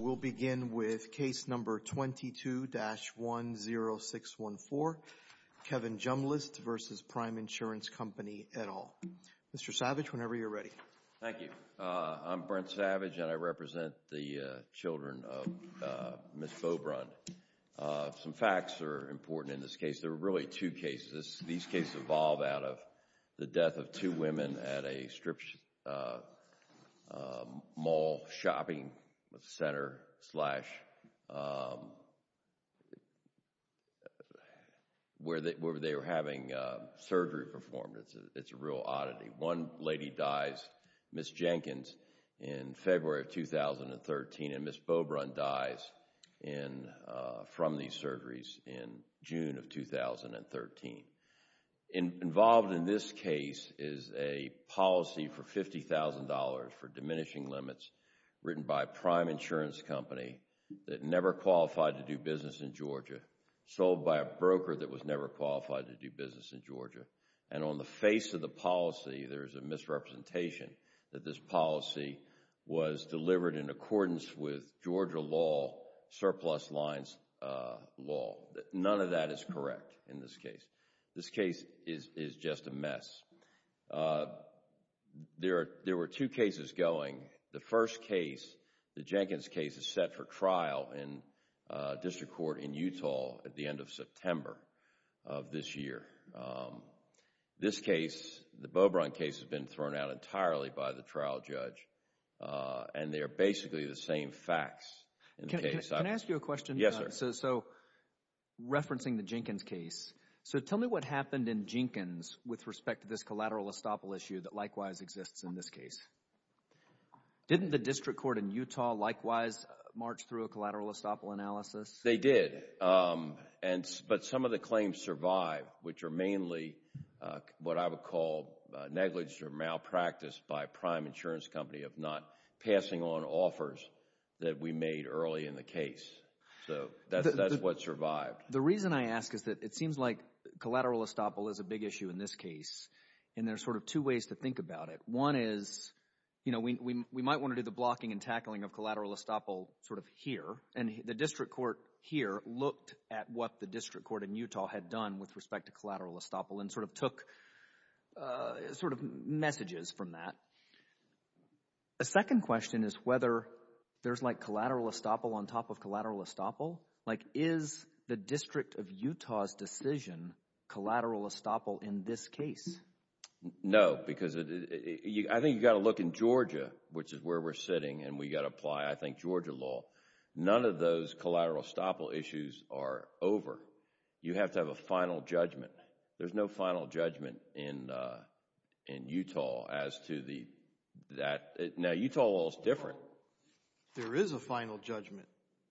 We'll begin with Case No. 22-10614, Kevin Jumlist v. Prime Insurance Co. et al. Mr. Savage, whenever you're ready. Thank you. I'm Brent Savage and I represent the children of Ms. Beaubrun. Some facts are important in this case. There are really two cases. These cases evolve out of the death of two women at a mall shopping center where they were having surgery performed. It's a real oddity. One lady dies, Ms. Jenkins, in February of 2013 and Ms. Beaubrun dies from these surgeries in June of 2013. Involved in this case is a policy for $50,000 for diminishing limits written by a prime insurance company that never qualified to do business in Georgia, sold by a broker that was never qualified to do business in Georgia, and on the face of the policy there is a misrepresentation that this policy was delivered in accordance with Georgia law surplus lines law. None of that is correct in this case. This case is just a mess. There were two cases going. The first case, the Jenkins case, is set for trial in district court in Utah at the end of September of this year. This case, the Beaubrun case, has been thrown out entirely by the trial judge and they are basically the same facts. Can I ask you a question? Yes, sir. So, referencing the Jenkins case, so tell me what happened in Jenkins with respect to this collateral estoppel issue that likewise exists in this case. Didn't the district court in Utah likewise march through a collateral estoppel analysis? They did, but some of the claims survived, which are mainly what I would call negligence or malpractice by a prime insurance company of not passing on offers that we made early in the case. So, that's what survived. The reason I ask is that it seems like collateral estoppel is a big issue in this case and there are sort of two ways to think about it. One is, you know, we might want to do the blocking and tackling of collateral estoppel sort of here and the district court here looked at what the district court in Utah had done with respect to collateral estoppel and sort of took sort of messages from that. The second question is whether there's like collateral estoppel on top of collateral estoppel. Like, is the District of Utah's decision collateral estoppel in this case? No, because I think you've got to look in Georgia, which is where we're sitting and we've got to apply, I think, Georgia law. None of those collateral estoppel issues are over. You have to have a final judgment. There's no final judgment in Utah as to the, that, now Utah law is different. There is a final judgment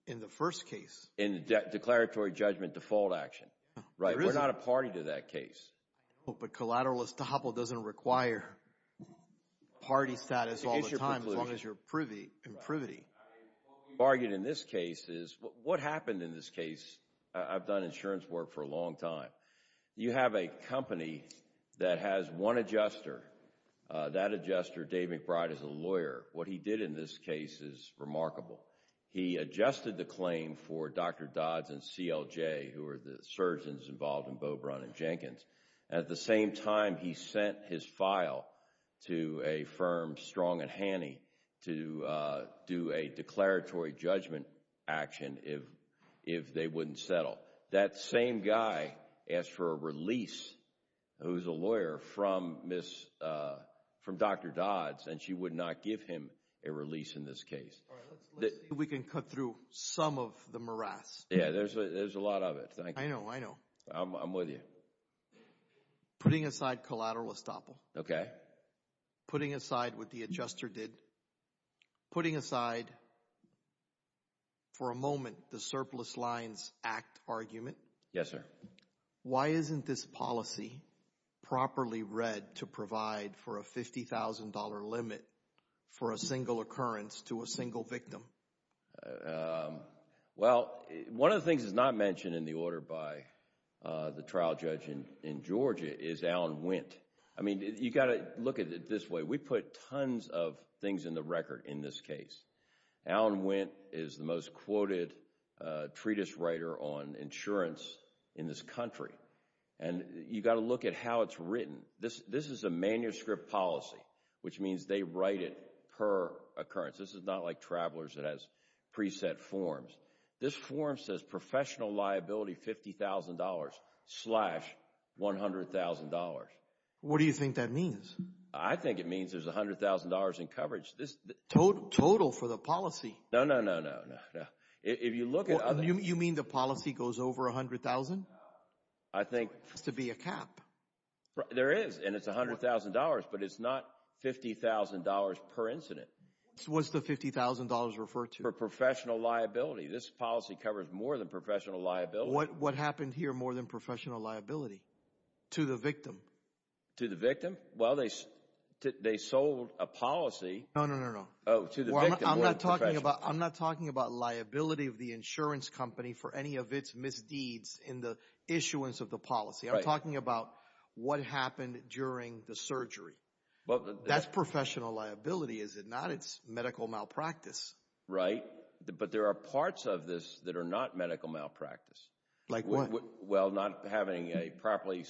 in the first case. In the declaratory judgment default action. Right. There isn't. We're not a party to that case. But collateral estoppel doesn't require party status all the time as long as you're privy What we've argued in this case is, what happened in this case, I've done insurance work for a long time. You have a company that has one adjuster. That adjuster, Dave McBride, is a lawyer. What he did in this case is remarkable. He adjusted the claim for Dr. Dodds and CLJ, who are the surgeons involved in Beaubrunn and Jenkins. At the same time, he sent his file to a firm, Strong and Haney, to do a declaratory judgment action if they wouldn't settle. That same guy asked for a release, who's a lawyer, from Dr. Dodds, and she would not give him a release in this case. We can cut through some of the morass. Yeah, there's a lot of it. I know. I know. I'm with you. Putting aside collateral estoppel, putting aside what the adjuster did, putting aside for a moment the Surplus Lines Act argument, why isn't this policy properly read to provide for a $50,000 limit for a single occurrence to a single victim? Well, one of the things that's not mentioned in the order by the trial judge in Georgia is Alan Wendt. I mean, you've got to look at it this way. We put tons of things in the record in this case. Alan Wendt is the most quoted treatise writer on insurance in this country, and you've got to look at how it's written. This is a manuscript policy, which means they write it per occurrence. This is not like Travelers that has preset forms. This form says professional liability $50,000 slash $100,000. What do you think that means? I think it means there's $100,000 in coverage. Total for the policy. No, no, no, no, no. If you look at other... You mean the policy goes over $100,000? I think... Has to be a cap. There is, and it's $100,000, but it's not $50,000 per incident. What's the $50,000 referred to? For professional liability. This policy covers more than professional liability. What happened here more than professional liability? To the victim. To the victim? Well, they sold a policy... No, no, no, no. Oh, to the victim. More than professional liability. I'm not talking about liability of the insurance company for any of its misdeeds in the issuance of the policy. I'm talking about what happened during the surgery. That's professional liability, is it not? It's medical malpractice. Right, but there are parts of this that are not medical malpractice. Like what? Well, not having a properly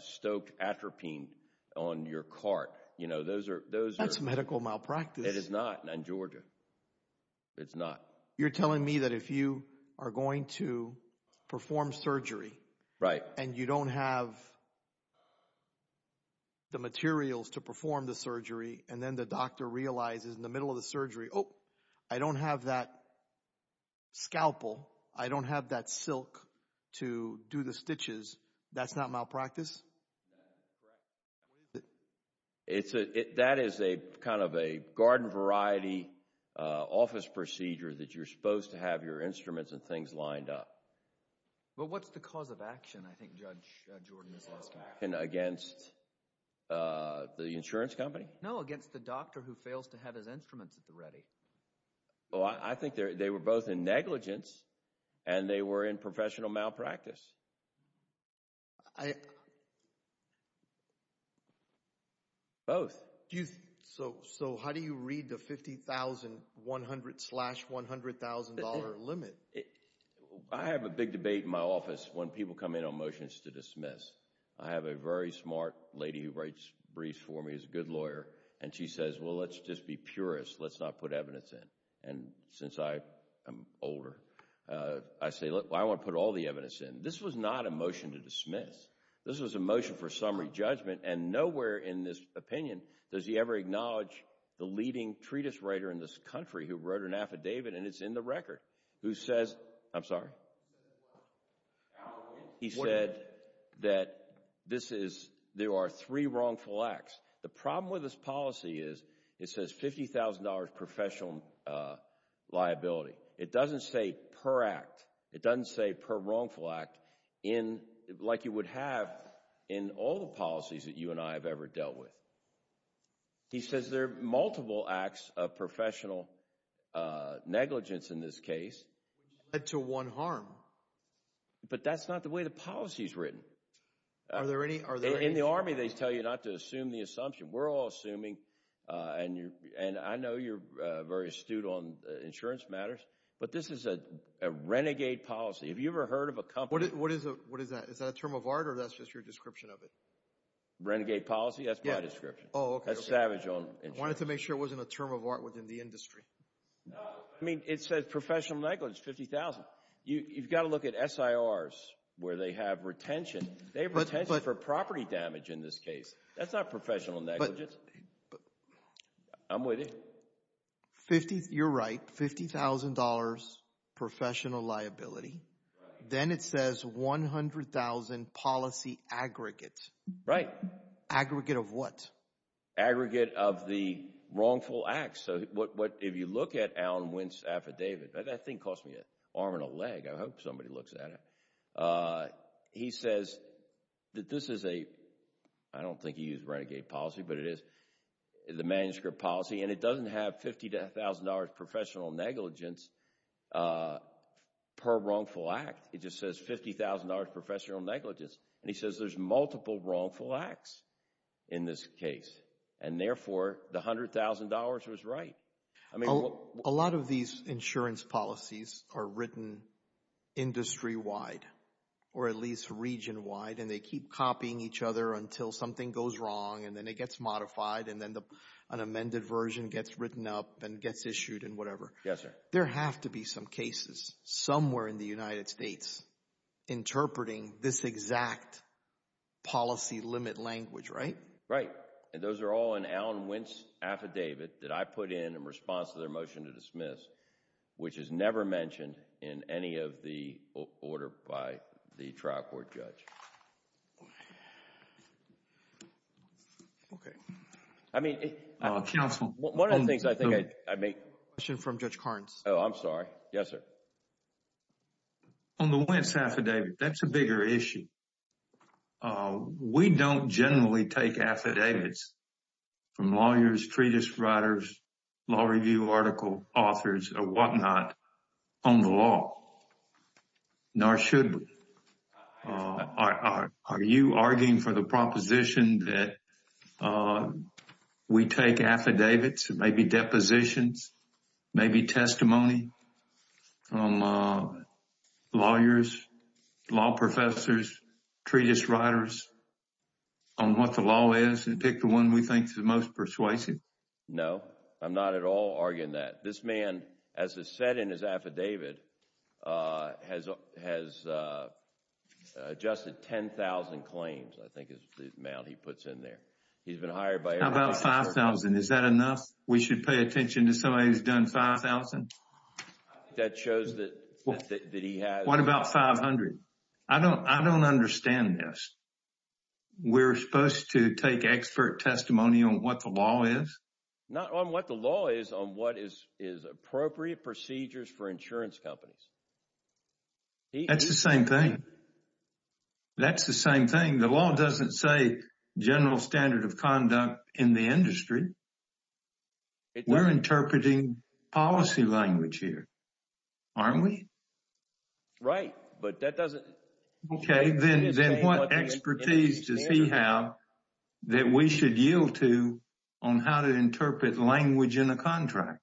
stoked atropine on your cart. Those are... That's medical malpractice. It is not, in Georgia. It's not. You're telling me that if you are going to perform surgery... Right.... and you don't have the materials to perform the surgery, and then the doctor realizes in the middle of the surgery, oh, I don't have that scalpel. I don't have that silk to do the stitches. That's not malpractice? That is correct. That is a garden variety office procedure that you're supposed to have your instruments and things lined up. Well, what's the cause of action, I think Judge Jordan is asking? Against the insurance company? No, against the doctor who fails to have his instruments at the ready. I think they were both in negligence and they were in professional malpractice, both. So how do you read the $50,000, $100,000 limit? I have a big debate in my office when people come in on motions to dismiss. I have a very smart lady who writes briefs for me, is a good lawyer, and she says, well, let's just be purists. Let's not put evidence in. Since I am older, I say, look, I want to put all the evidence in. This was not a motion to dismiss. This was a motion for summary judgment, and nowhere in this opinion does he ever acknowledge the leading treatise writer in this country who wrote an affidavit, and it's in the record, who says, I'm sorry, he said that this is, there are three wrongful acts. The problem with this policy is it says $50,000 professional liability. It doesn't say per act. It doesn't say per wrongful act, like you would have in all the policies that you and I have ever dealt with. He says there are multiple acts of professional negligence in this case. Which led to one harm. But that's not the way the policy is written. In the Army, they tell you not to assume the assumption. We're all assuming, and I know you're very astute on insurance matters, but this is a renegade policy. Have you ever heard of a company? What is that? Is that a term of art, or that's just your description of it? Renegade policy? Yeah. That's my description. Oh, okay. That's savage on insurance. I wanted to make sure it wasn't a term of art within the industry. No. I mean, it says professional negligence, $50,000. You've got to look at SIRs, where they have retention. They have retention for property damage in this case. That's not professional negligence. I'm with you. You're right, $50,000 professional liability. Then it says $100,000 policy aggregate. Right. Aggregate of what? Aggregate of the wrongful acts. So, if you look at Alan Wint's affidavit, that thing cost me an arm and a leg. I hope somebody looks at it. He says that this is a, I don't think he used renegade policy, but it is the manuscript policy, and it doesn't have $50,000 professional negligence per wrongful act. It just says $50,000 professional negligence, and he says there's multiple wrongful acts. In this case, and therefore, the $100,000 was right. A lot of these insurance policies are written industry-wide, or at least region-wide, and they keep copying each other until something goes wrong, and then it gets modified, and then an amended version gets written up, and gets issued, and whatever. There have to be some cases somewhere in the United States interpreting this exact policy to limit language, right? Right. Those are all in Alan Wint's affidavit that I put in in response to their motion to dismiss, which is never mentioned in any of the order by the trial court judge. Okay. I mean, one of the things I think I'd make... Question from Judge Carnes. Oh, I'm sorry. Yes, sir. On the Wint's affidavit, that's a bigger issue. We don't generally take affidavits from lawyers, treatise writers, law review article authors, or whatnot on the law, nor should we. Are you arguing for the proposition that we take affidavits, maybe depositions, maybe treatise writers on what the law is, and pick the one we think is the most persuasive? No, I'm not at all arguing that. This man, as it's said in his affidavit, has adjusted 10,000 claims, I think is the amount he puts in there. He's been hired by... How about 5,000? Is that enough? We should pay attention to somebody who's done 5,000? That shows that he has... What about 500? I don't understand this. We're supposed to take expert testimony on what the law is? Not on what the law is, on what is appropriate procedures for insurance companies. That's the same thing. That's the same thing. The law doesn't say general standard of conduct in the industry. We're interpreting policy language here, aren't we? Right, but that doesn't... Okay, then what expertise does he have that we should yield to on how to interpret language in a contract?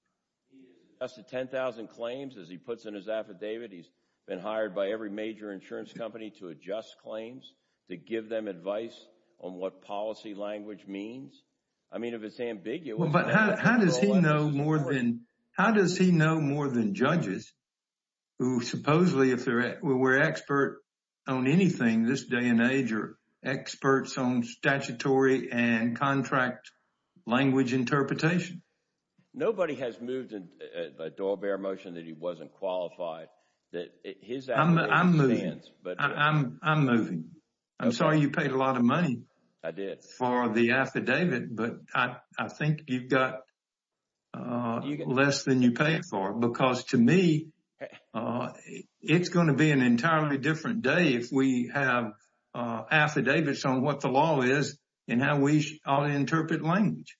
He has adjusted 10,000 claims, as he puts in his affidavit. He's been hired by every major insurance company to adjust claims, to give them advice on what policy language means. I mean, if it's ambiguous... Supposedly, if we're expert on anything this day and age, we're experts on statutory and contract language interpretation. Nobody has moved a doorbell motion that he wasn't qualified. His affidavit stands. I'm moving. I'm moving. I'm sorry you paid a lot of money for the affidavit, but I think you've got less than you paid for, because to me, it's going to be an entirely different day if we have affidavits on what the law is and how we ought to interpret language.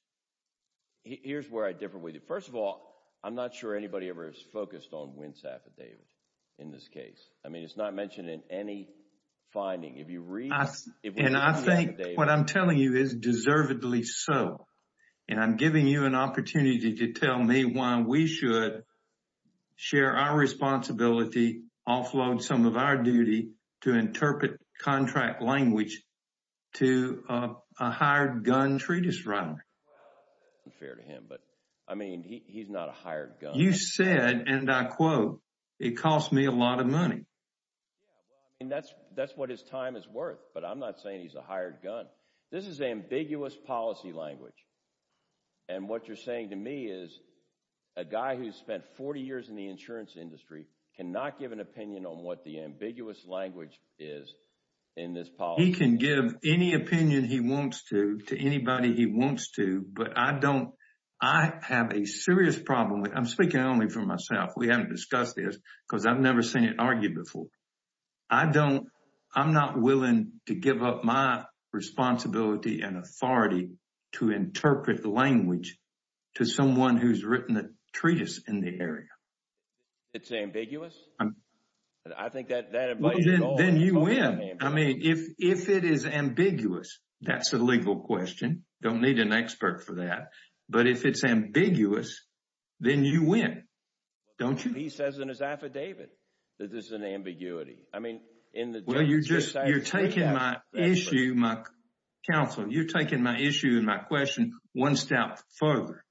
Here's where I differ with you. First of all, I'm not sure anybody ever has focused on Wint's affidavit in this case. I mean, it's not mentioned in any finding. If you read... And I think what I'm telling you is deservedly so, and I'm giving you an opportunity to tell me why we should share our responsibility, offload some of our duty to interpret contract language to a hired gun treatise writer. Well, that's unfair to him, but I mean, he's not a hired gun. You said, and I quote, it cost me a lot of money. That's what his time is worth, but I'm not saying he's a hired gun. This is ambiguous policy language, and what you're saying to me is a guy who's spent 40 years in the insurance industry cannot give an opinion on what the ambiguous language is in this policy. He can give any opinion he wants to to anybody he wants to, but I don't... I have a serious problem with... I'm speaking only for myself. We haven't discussed this, because I've never seen it argued before. I don't... I'm not willing to give up my responsibility and authority to interpret the language to someone who's written a treatise in the area. It's ambiguous? I think that... Well, then you win. I mean, if it is ambiguous, that's a legal question. Don't need an expert for that, but if it's ambiguous, then you win. Don't you? That's what he says in his affidavit, that this is an ambiguity. I mean, in the... Well, you're just...... You're taking my issue... Counsel, you're taking my issue and my question one step further.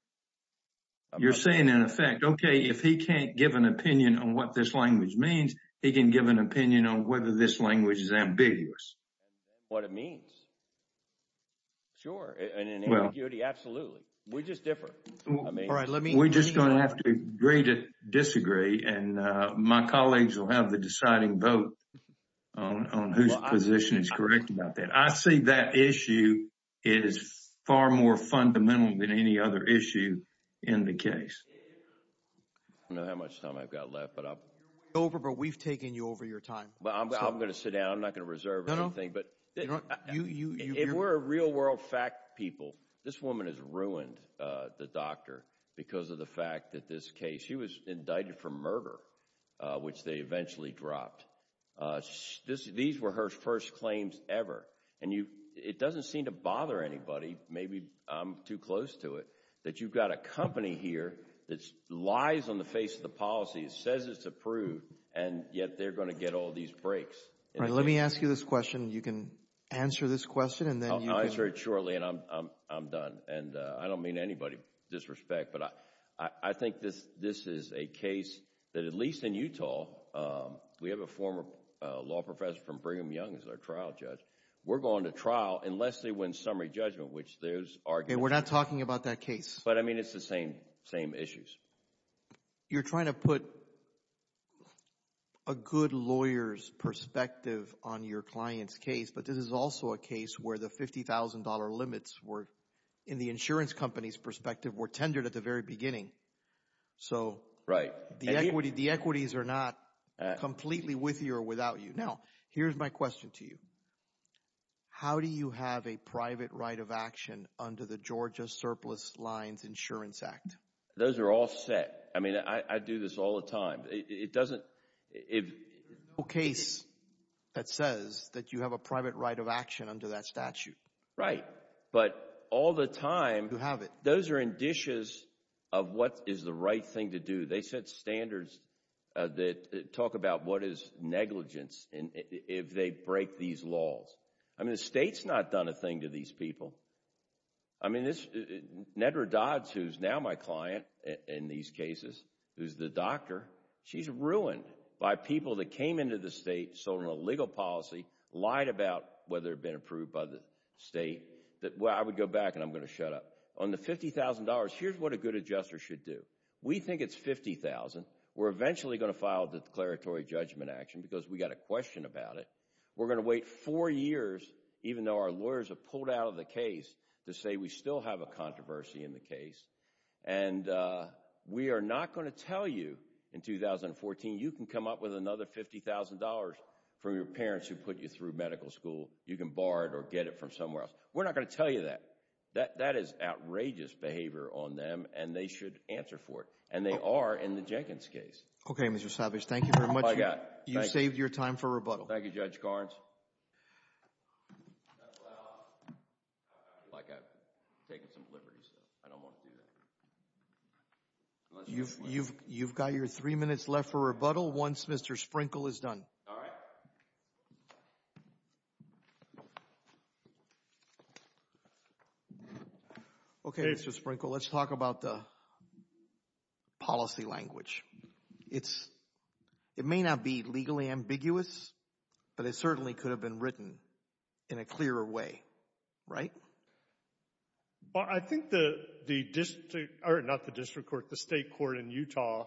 You're saying, in effect, okay, if he can't give an opinion on what this language means, he can give an opinion on whether this language is ambiguous. What it means. Sure, and in ambiguity, absolutely. We just differ. I mean... All right, let me... We're just going to have to agree to disagree, and my colleagues will have the deciding vote on whose position is correct about that. I see that issue is far more fundamental than any other issue in the case. I don't know how much time I've got left, but I... You're way over, but we've taken you over your time. I'm going to sit down. I'm not going to reserve anything, but... No, no. You... Those were the claims to the fact that this case, he was indicted for murder, which they eventually dropped. These were her first claims ever, and you... It doesn't seem to bother anybody. Maybe, I'm too close to it, that you've got a company here that lies on the face of the policy. It says it's approved, and yet, they're going to get all these breaks. Let me ask you this question. You can answer this question, and then you can... I'll answer it shortly, and I'm done. I don't mean to anybody disrespect, but I think this is a case that, at least in Utah, we have a former law professor from Brigham Young as our trial judge. We're going to trial unless they win summary judgment, which there's argument... We're not talking about that case. But, I mean, it's the same issues. You're trying to put a good lawyer's perspective on your client's case, but this is also a case where, in the insurance company's perspective, we're tendered at the very beginning, so... Right.... The equities are not completely with you or without you. Now, here's my question to you. How do you have a private right of action under the Georgia Surplus Lines Insurance Act? Those are all set. I mean, I do this all the time. It doesn't... There's no case that says that you have a private right of action under that statute. Right. Right. But, all the time... You have it.... those are in dishes of what is the right thing to do. They set standards that talk about what is negligence if they break these laws. I mean, the state's not done a thing to these people. I mean, Nedra Dodds, who's now my client in these cases, who's the doctor, she's ruined by people that came into the state, sold her a legal policy, lied about whether it had been approved by the state, that, well, I would go back and I'm going to shut up. On the $50,000, here's what a good adjuster should do. We think it's $50,000. We're eventually going to file a declaratory judgment action because we got a question about it. We're going to wait four years, even though our lawyers have pulled out of the case, to say we still have a controversy in the case, and we are not going to tell you in 2014, you can come up with another $50,000 from your parents who put you through medical school. You can borrow it or get it from somewhere else. We're not going to tell you that. That is outrageous behavior on them, and they should answer for it, and they are in the Jenkins case. Okay, Mr. Savage. Thank you very much. You saved your time for rebuttal. Thank you, Judge Garns. I feel like I've taken some liberties, so I don't want to do that. You've got your three minutes left for rebuttal once Mr. Sprinkle is done. All right. Okay, Mr. Sprinkle, let's talk about the policy language. It may not be legally ambiguous, but it certainly could have been written in a clearer way, right? Well, I think the district, or not the district court, the state court in Utah,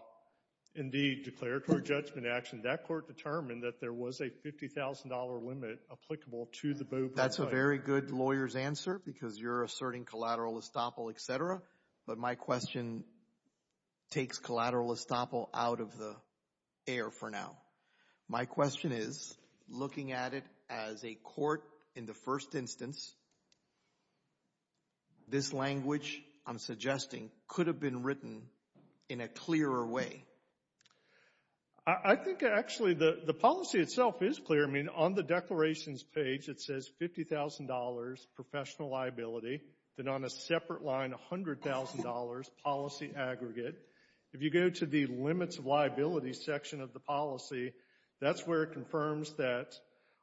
in the declaratory judgment action, that court determined that there was a $50,000 limit applicable to the BOPA. That's a very good lawyer's answer, because you're asserting collateral estoppel, etc., but my question takes collateral estoppel out of the air for now. My question is, looking at it as a court in the first instance, this language I'm suggesting could have been written in a clearer way. I think, actually, the policy itself is clear. I mean, on the declarations page it says $50,000 professional liability, then on a separate line $100,000 policy aggregate. If you go to the limits of liability section of the policy, that's where it confirms that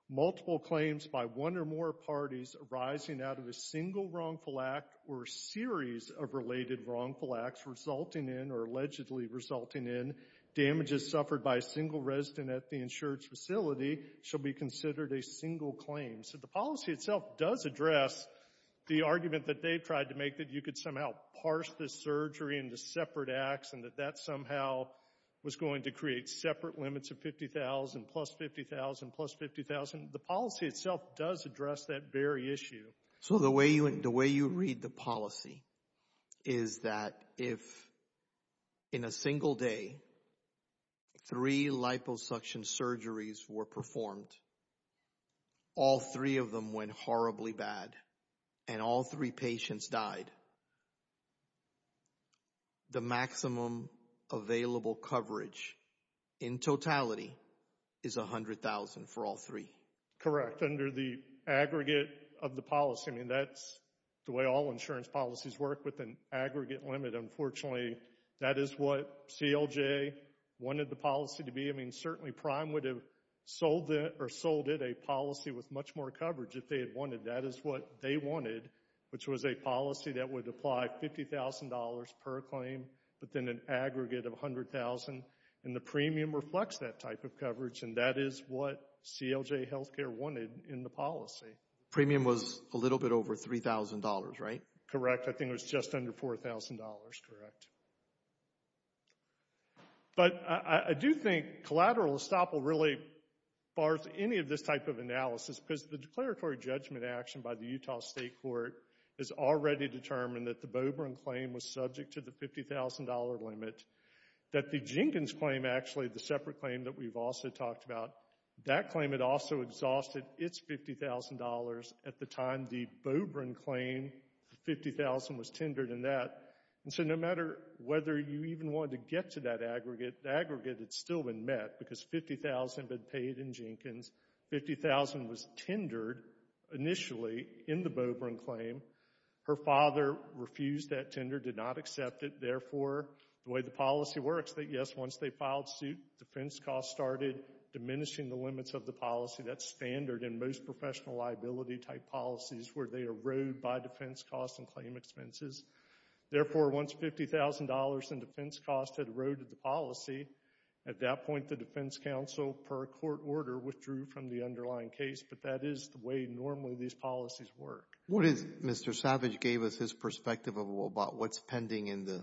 multiple claims by one or more parties arising out of a single wrongful act or series of related wrongful acts resulting in, or allegedly resulting in, damages suffered by a single resident at the insurance facility shall be considered a single claim. So the policy itself does address the argument that they've tried to make, that you could somehow parse this surgery into separate acts, and that that somehow was going to create separate limits of $50,000, plus $50,000, plus $50,000. The policy itself does address that very issue. So the way you read the policy is that if, in a single day, three liposuction surgeries were performed, all three of them went horribly bad, and all three patients died, the maximum available coverage, in totality, is $100,000 for all three? Correct. Correct, under the aggregate of the policy. I mean, that's the way all insurance policies work, with an aggregate limit, unfortunately. That is what CLJ wanted the policy to be. I mean, certainly, Prime would have sold it, or sold it a policy with much more coverage if they had wanted. That is what they wanted, which was a policy that would apply $50,000 per claim, but then an aggregate of $100,000, and the premium reflects that type of coverage, and that is what CLJ Healthcare wanted in the policy. Premium was a little bit over $3,000, right? Correct. I think it was just under $4,000, correct. But I do think collateral estoppel really bars any of this type of analysis, because the declaratory judgment action by the Utah State Court has already determined that the Bobrin claim was subject to the $50,000 limit, that the Jenkins claim, actually, the separate claim that we've also talked about, that claim had also exhausted its $50,000 at the time the Bobrin claim, the $50,000 was tendered in that, and so no matter whether you even wanted to get to that aggregate, the aggregate had still been met, because $50,000 had been paid in Jenkins, $50,000 was tendered, initially, in the Bobrin claim. Her father refused that tender, did not accept it, therefore, the way the policy works, yes, once they filed suit, defense costs started diminishing the limits of the policy, that standard in most professional liability type policies, where they erode by defense costs and claim expenses. Therefore, once $50,000 in defense costs had eroded the policy, at that point, the defense counsel, per court order, withdrew from the underlying case, but that is the way, normally, these policies work. What is, Mr. Savage gave us his perspective about what's pending in the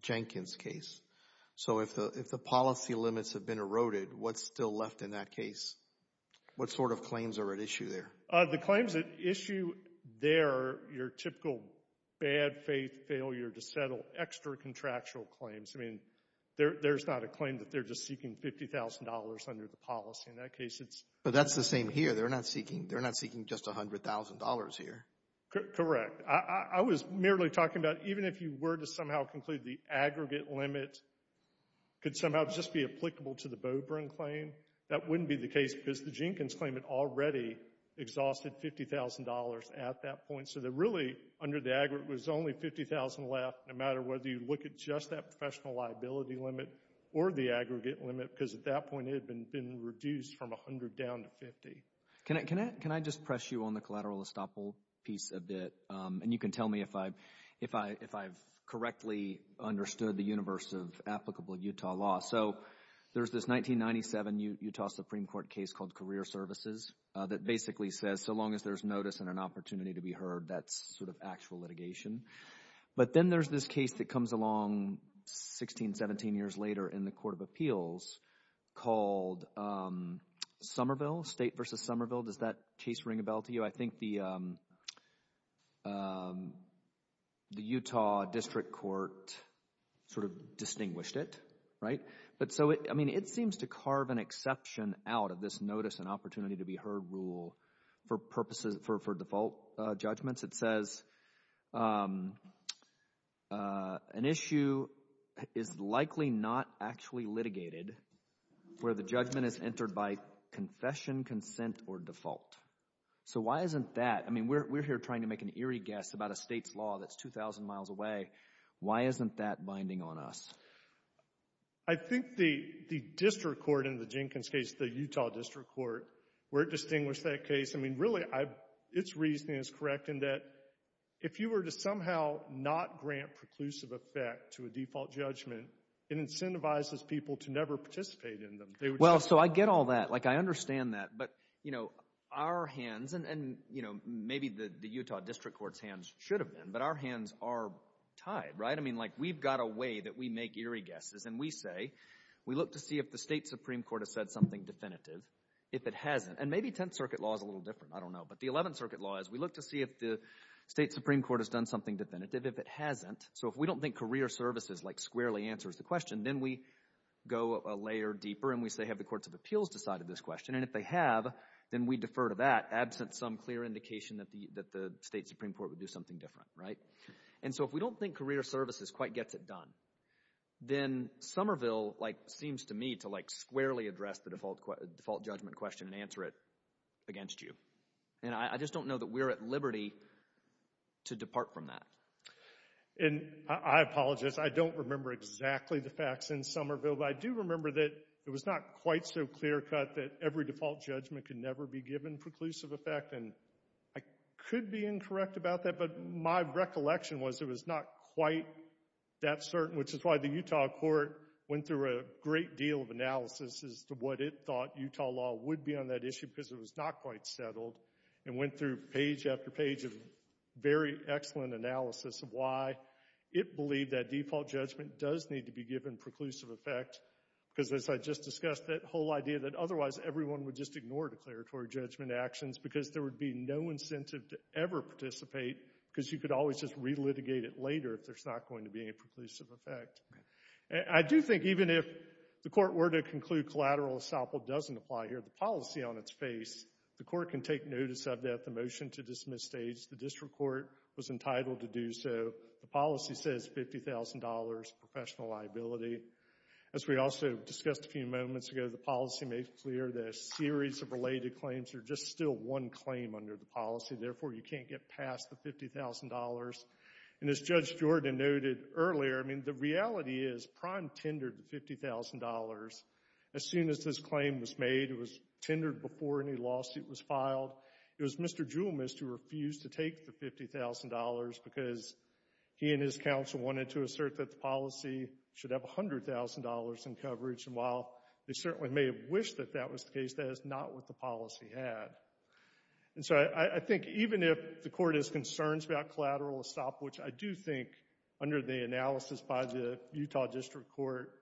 Jenkins case. So, if the policy limits have been eroded, what's still left in that case? What sort of claims are at issue there? The claims at issue there, your typical bad faith failure to settle extra contractual claims, I mean, there's not a claim that they're just seeking $50,000 under the policy, in that case it's... But that's the same here, they're not seeking just $100,000 here. Correct. I was merely talking about, even if you were to somehow conclude the aggregate limit could somehow just be applicable to the Beaubrunn claim, that wouldn't be the case because the Jenkins claim had already exhausted $50,000 at that point, so that really, under the aggregate, was only $50,000 left, no matter whether you look at just that professional liability limit or the aggregate limit, because at that point, it had been reduced from $100,000 down to $50,000. Can I just press you on the collateral estoppel piece a bit, and you can tell me if I've correctly understood the universe of applicable Utah law. So, there's this 1997 Utah Supreme Court case called Career Services that basically says, so long as there's notice and an opportunity to be heard, that's sort of actual litigation. But then there's this case that comes along 16, 17 years later in the Court of Appeals called Somerville, State v. Somerville. Does that, Chase, ring a bell to you? I think the Utah District Court sort of distinguished it, right? But so, I mean, it seems to carve an exception out of this notice and opportunity to be heard rule for purposes, for default judgments. It says, an issue is likely not actually litigated where the judgment is entered by confession, consent, or default. So why isn't that, I mean, we're here trying to make an eerie guess about a state's law that's 2,000 miles away. Why isn't that binding on us? I think the district court in the Jenkins case, the Utah District Court, where it distinguished that case, I mean, really, its reasoning is correct in that if you were to somehow not grant preclusive effect to a default judgment, it incentivizes people to never participate in them. Well, so I get all that. Like, I understand that. But, you know, our hands, and, you know, maybe the Utah District Court's hands should have been, but our hands are tied, right? I mean, like, we've got a way that we make eerie guesses, and we say, we look to see if the state Supreme Court has said something definitive. If it hasn't, and maybe Tenth Circuit law is a little different, I don't know, but the Eleventh Circuit law is, we look to see if the state Supreme Court has done something definitive. If it hasn't, so if we don't think career services, like, squarely answers the question, then we go a layer deeper, and we say, have the courts of appeals decided this question? And if they have, then we defer to that, absent some clear indication that the state Supreme Court would do something different, right? And so if we don't think career services quite gets it done, then Somerville, like, seems to me to, like, squarely address the default judgment question and answer it against you. And I just don't know that we're at liberty to depart from that. And I apologize, I don't remember exactly the facts in Somerville, but I do remember that it was not quite so clear-cut that every default judgment could never be given preclusive effect, and I could be incorrect about that, but my recollection was it was not quite that deal of analysis as to what it thought Utah law would be on that issue, because it was not quite settled, and went through page after page of very excellent analysis of why it believed that default judgment does need to be given preclusive effect, because as I just discussed, that whole idea that otherwise everyone would just ignore declaratory judgment actions because there would be no incentive to ever participate, because you could always just re-litigate it later if there's not going to be any preclusive effect. I do think even if the court were to conclude collateral assamble doesn't apply here, the policy on its face, the court can take notice of that, the motion to dismiss states the district court was entitled to do so, the policy says $50,000 professional liability. As we also discussed a few moments ago, the policy made clear that a series of related claims are just still one claim under the policy, therefore you can't get past the $50,000. And as Judge Jordan noted earlier, I mean, the reality is Prine tendered the $50,000 as soon as this claim was made, it was tendered before any lawsuit was filed, it was Mr. Jewelmist who refused to take the $50,000 because he and his counsel wanted to assert that the policy should have $100,000 in coverage, and while they certainly may have wished that that was the case, that is not what the policy had. And so I think even if the court has concerns about collateral assamble, which I do think under the analysis by the Utah District Court,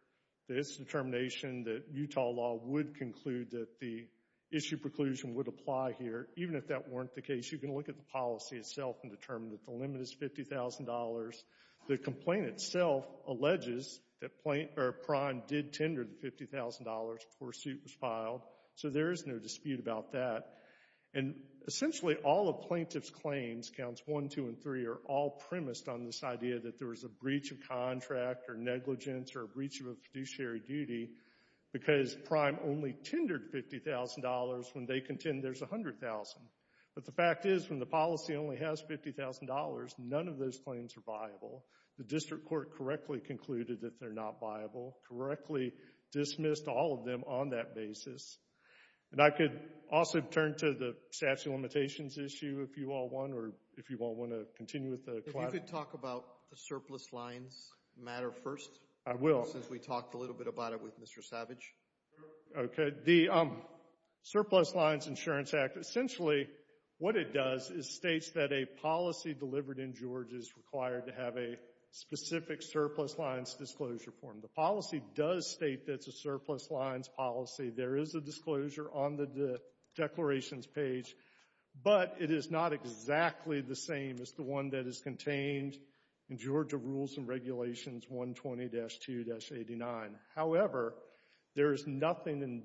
this determination that Utah law would conclude that the issue preclusion would apply here, even if that weren't the case, you can look at the policy itself and determine that the limit is $50,000. The complaint itself alleges that Prine did tender the $50,000 before a suit was filed, so there is no dispute about that. And essentially all of plaintiff's claims, counts 1, 2, and 3, are all premised on this idea that there was a breach of contract or negligence or a breach of a fiduciary duty because Prine only tendered $50,000 when they contend there's $100,000. But the fact is when the policy only has $50,000, none of those claims are viable. The District Court correctly concluded that they're not viable, correctly dismissed all of them on that basis. And I could also turn to the statute of limitations issue if you all want or if you all want to continue with the collateral. If you could talk about the surplus lines matter first. I will. Since we talked a little bit about it with Mr. Savage. Okay. The Surplus Lines Insurance Act, essentially what it does is states that a policy delivered in Georgia is required to have a specific surplus lines disclosure form. The policy does state that it's a surplus lines policy. There is a disclosure on the declarations page, but it is not exactly the same as the one that is contained in Georgia Rules and Regulations 120-2-89. However, there is nothing in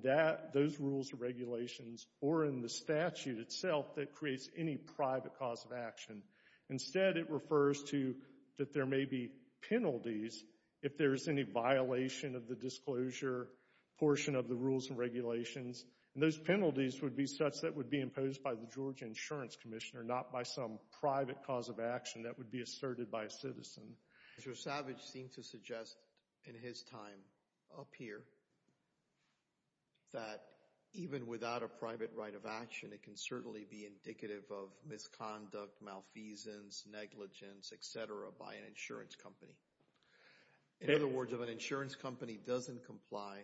those rules and regulations or in the statute itself that creates any private cause of action. Instead, it refers to that there may be penalties if there's any violation of the disclosure portion of the rules and regulations. Those penalties would be such that would be imposed by the Georgia Insurance Commissioner, not by some private cause of action that would be asserted by a citizen. Mr. Savage seemed to suggest in his time up here that even without a private right of reasons, negligence, et cetera, by an insurance company. In other words, if an insurance company doesn't comply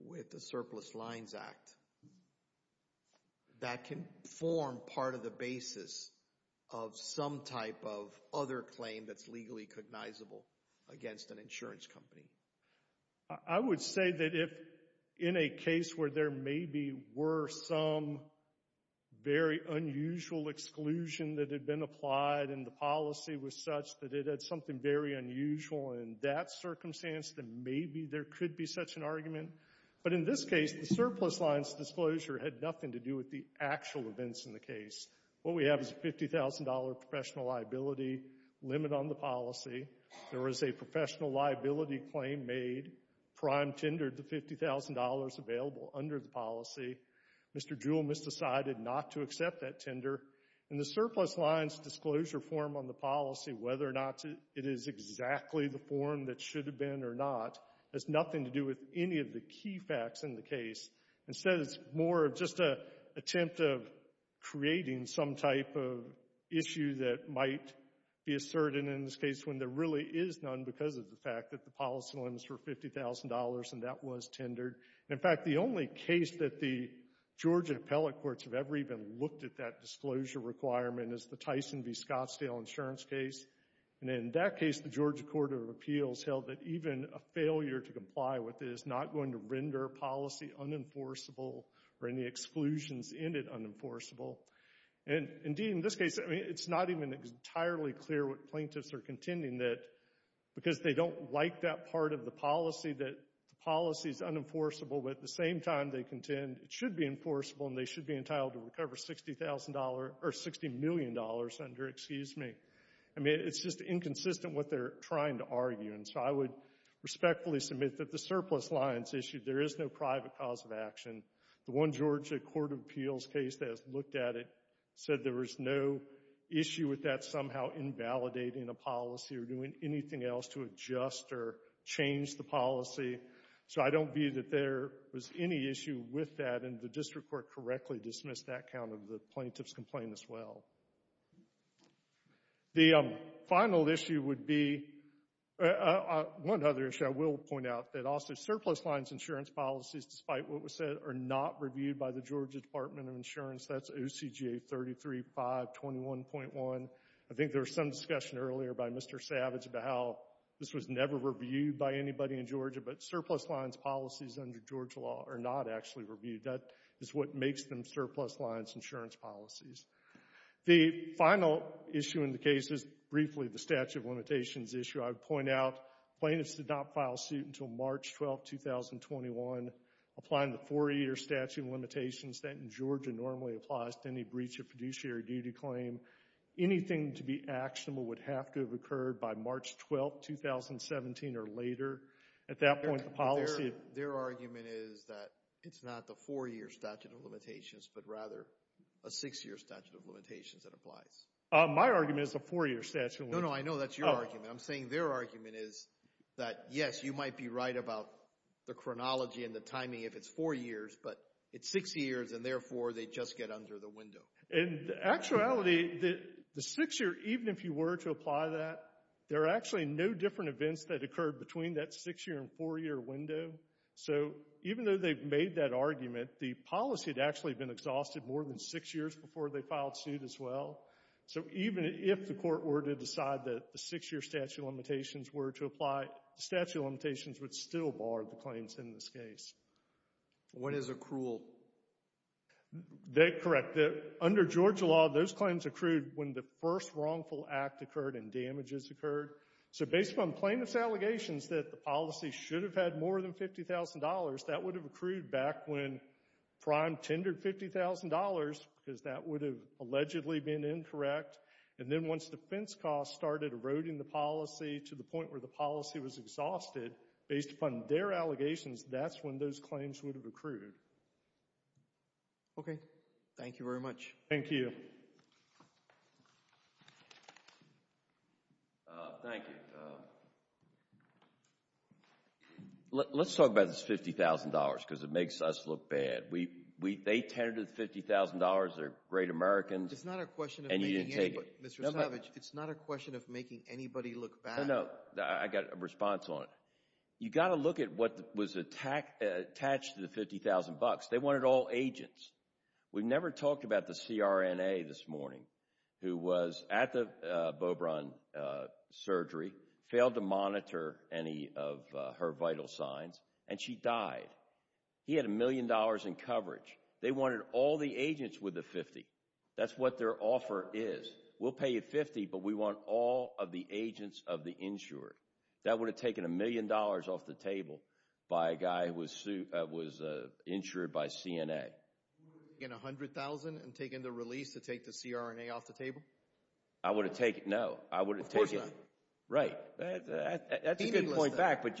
with the Surplus Lines Act, that can form part of the basis of some type of other claim that's legally cognizable against an insurance company. I would say that if in a case where there maybe were some very unusual exclusion that had been applied and the policy was such that it had something very unusual in that circumstance, then maybe there could be such an argument. But in this case, the surplus lines disclosure had nothing to do with the actual events in the case. What we have is a $50,000 professional liability limit on the policy. There was a professional liability claim made, prime tendered the $50,000 available under the policy. Mr. Jewell misdecided not to accept that tender. And the surplus lines disclosure form on the policy, whether or not it is exactly the form that should have been or not, has nothing to do with any of the key facts in the case. Instead, it's more of just an attempt of creating some type of issue that might be asserted in this case when there really is none because of the fact that the policy limits were $50,000 and that was tendered. In fact, the only case that the Georgia appellate courts have ever even looked at that disclosure requirement is the Tyson v. Scottsdale insurance case. And in that case, the Georgia Court of Appeals held that even a failure to comply with it is not going to render a policy unenforceable or any exclusions in it unenforceable. And indeed, in this case, it's not even entirely clear what plaintiffs are contending that because they don't like that part of the policy that the policy is unenforceable, but at the same time, they contend it should be enforceable and they should be entitled to recover $60,000 or $60 million under, excuse me. I mean, it's just inconsistent what they're trying to argue. And so I would respectfully submit that the surplus lines issue, there is no private cause of action. The one Georgia Court of Appeals case that has looked at it said there was no issue with that somehow invalidating a policy or doing anything else to adjust or change the policy. So I don't view that there was any issue with that and the district court correctly dismissed that count of the plaintiff's complaint as well. The final issue would be, one other issue I will point out, that also surplus lines insurance policies, despite what was said, are not reviewed by the Georgia Department of Insurance. That's OCGA 33521.1. I think there was some discussion earlier by Mr. Savage about how this was never reviewed by anybody in Georgia, but surplus lines policies under Georgia law are not actually reviewed. That is what makes them surplus lines insurance policies. The final issue in the case is briefly the statute of limitations issue. I would point out plaintiffs did not file suit until March 12, 2021, applying the four-year statute of limitations that in Georgia normally applies to any breach of fiduciary duty claim. Anything to be actionable would have to have occurred by March 12, 2017 or later. At that point, the policy... Their argument is that it's not the four-year statute of limitations, but rather a six-year statute of limitations that applies. My argument is a four-year statute of limitations. No, no. I know that's your argument. I'm saying their argument is that, yes, you might be right about the chronology and the It's six years, and therefore, they just get under the window. In actuality, the six-year, even if you were to apply that, there are actually no different events that occurred between that six-year and four-year window. So even though they've made that argument, the policy had actually been exhausted more than six years before they filed suit as well. So even if the court were to decide that the six-year statute of limitations were to apply, the statute of limitations would still bar the claims in this case. When is accrual? That... Correct. Under Georgia law, those claims accrued when the first wrongful act occurred and damages occurred. So based upon plaintiff's allegations that the policy should have had more than $50,000, that would have accrued back when Prime tendered $50,000 because that would have allegedly been incorrect. And then once defense costs started eroding the policy to the point where the policy was those claims would have accrued. Okay. Thank you very much. Thank you. Thank you. Let's talk about this $50,000 because it makes us look bad. They tendered $50,000, they're great Americans, and you didn't take it. It's not a question of making anybody, Mr. Savage, it's not a question of making anybody look bad. No, no. I've got a response on it. You got to look at what was attached to the $50,000. They wanted all agents. We've never talked about the CRNA this morning who was at the Beaubrun surgery, failed to monitor any of her vital signs, and she died. He had a million dollars in coverage. They wanted all the agents with the $50,000. That's what their offer is. We'll pay you $50,000, but we want all of the agents of the insured. That would have taken a million dollars off the table by a guy who was insured by CNA. You would have taken $100,000 and taken the release to take the CRNA off the table? I would have taken... No. I would have taken... Of course not. Right. That's a good point back, but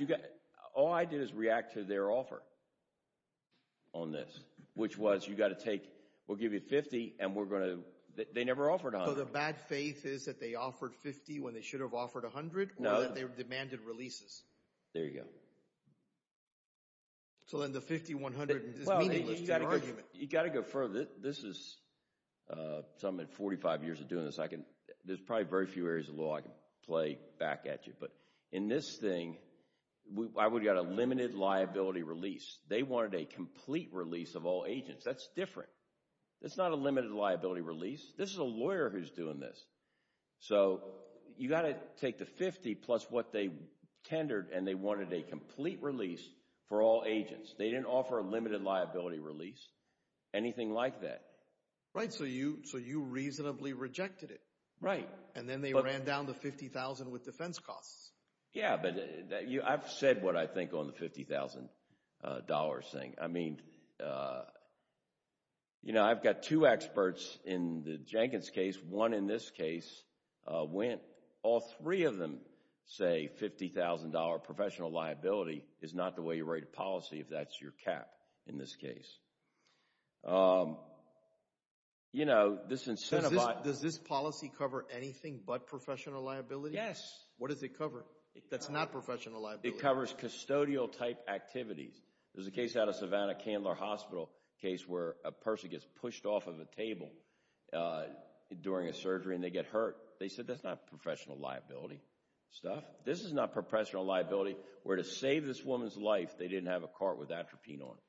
all I did is react to their offer on this, which was you got to take... We'll give you $50,000 and we're going to... They never offered $100,000. The bad faith is that they offered $50,000 when they should have offered $100,000 or that they demanded releases? There you go. Then the $50,000, $100,000 is meaningless to your argument. You got to go further. This is something that 45 years of doing this, there's probably very few areas of law I can play back at you. In this thing, I would have got a limited liability release. They wanted a complete release of all agents. That's different. It's not a limited liability release. This is a lawyer who's doing this. You got to take the $50,000 plus what they tendered, and they wanted a complete release for all agents. They didn't offer a limited liability release, anything like that. Right. You reasonably rejected it. Right. Then they ran down the $50,000 with defense costs. Yeah. I've said what I think on the $50,000 thing. I've got two experts in the Jenkins case, one in this case. All three of them say $50,000 professional liability is not the way you rate a policy if that's your cap in this case. Does this policy cover anything but professional liability? Yes. What does it cover that's not professional liability? It covers custodial type activities. There's a case out of Savannah Candler Hospital, a case where a person gets pushed off of a table during a surgery, and they get hurt. They said that's not professional liability stuff. This is not professional liability where to save this woman's life, they didn't have a cart with Atropine on it.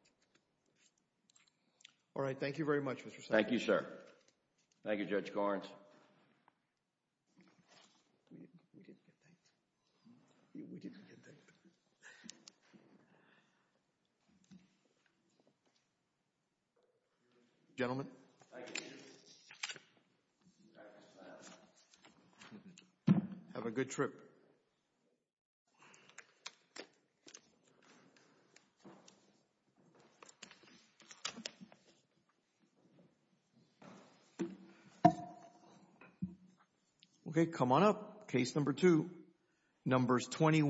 All right. Thank you very much, Mr. Sanders. Thank you, sir. Thank you, Judge Garns. We didn't get that. We didn't get that. Gentlemen. Thank you, Chief. Have a good trip. Okay, come on up. Case number two. Number 21.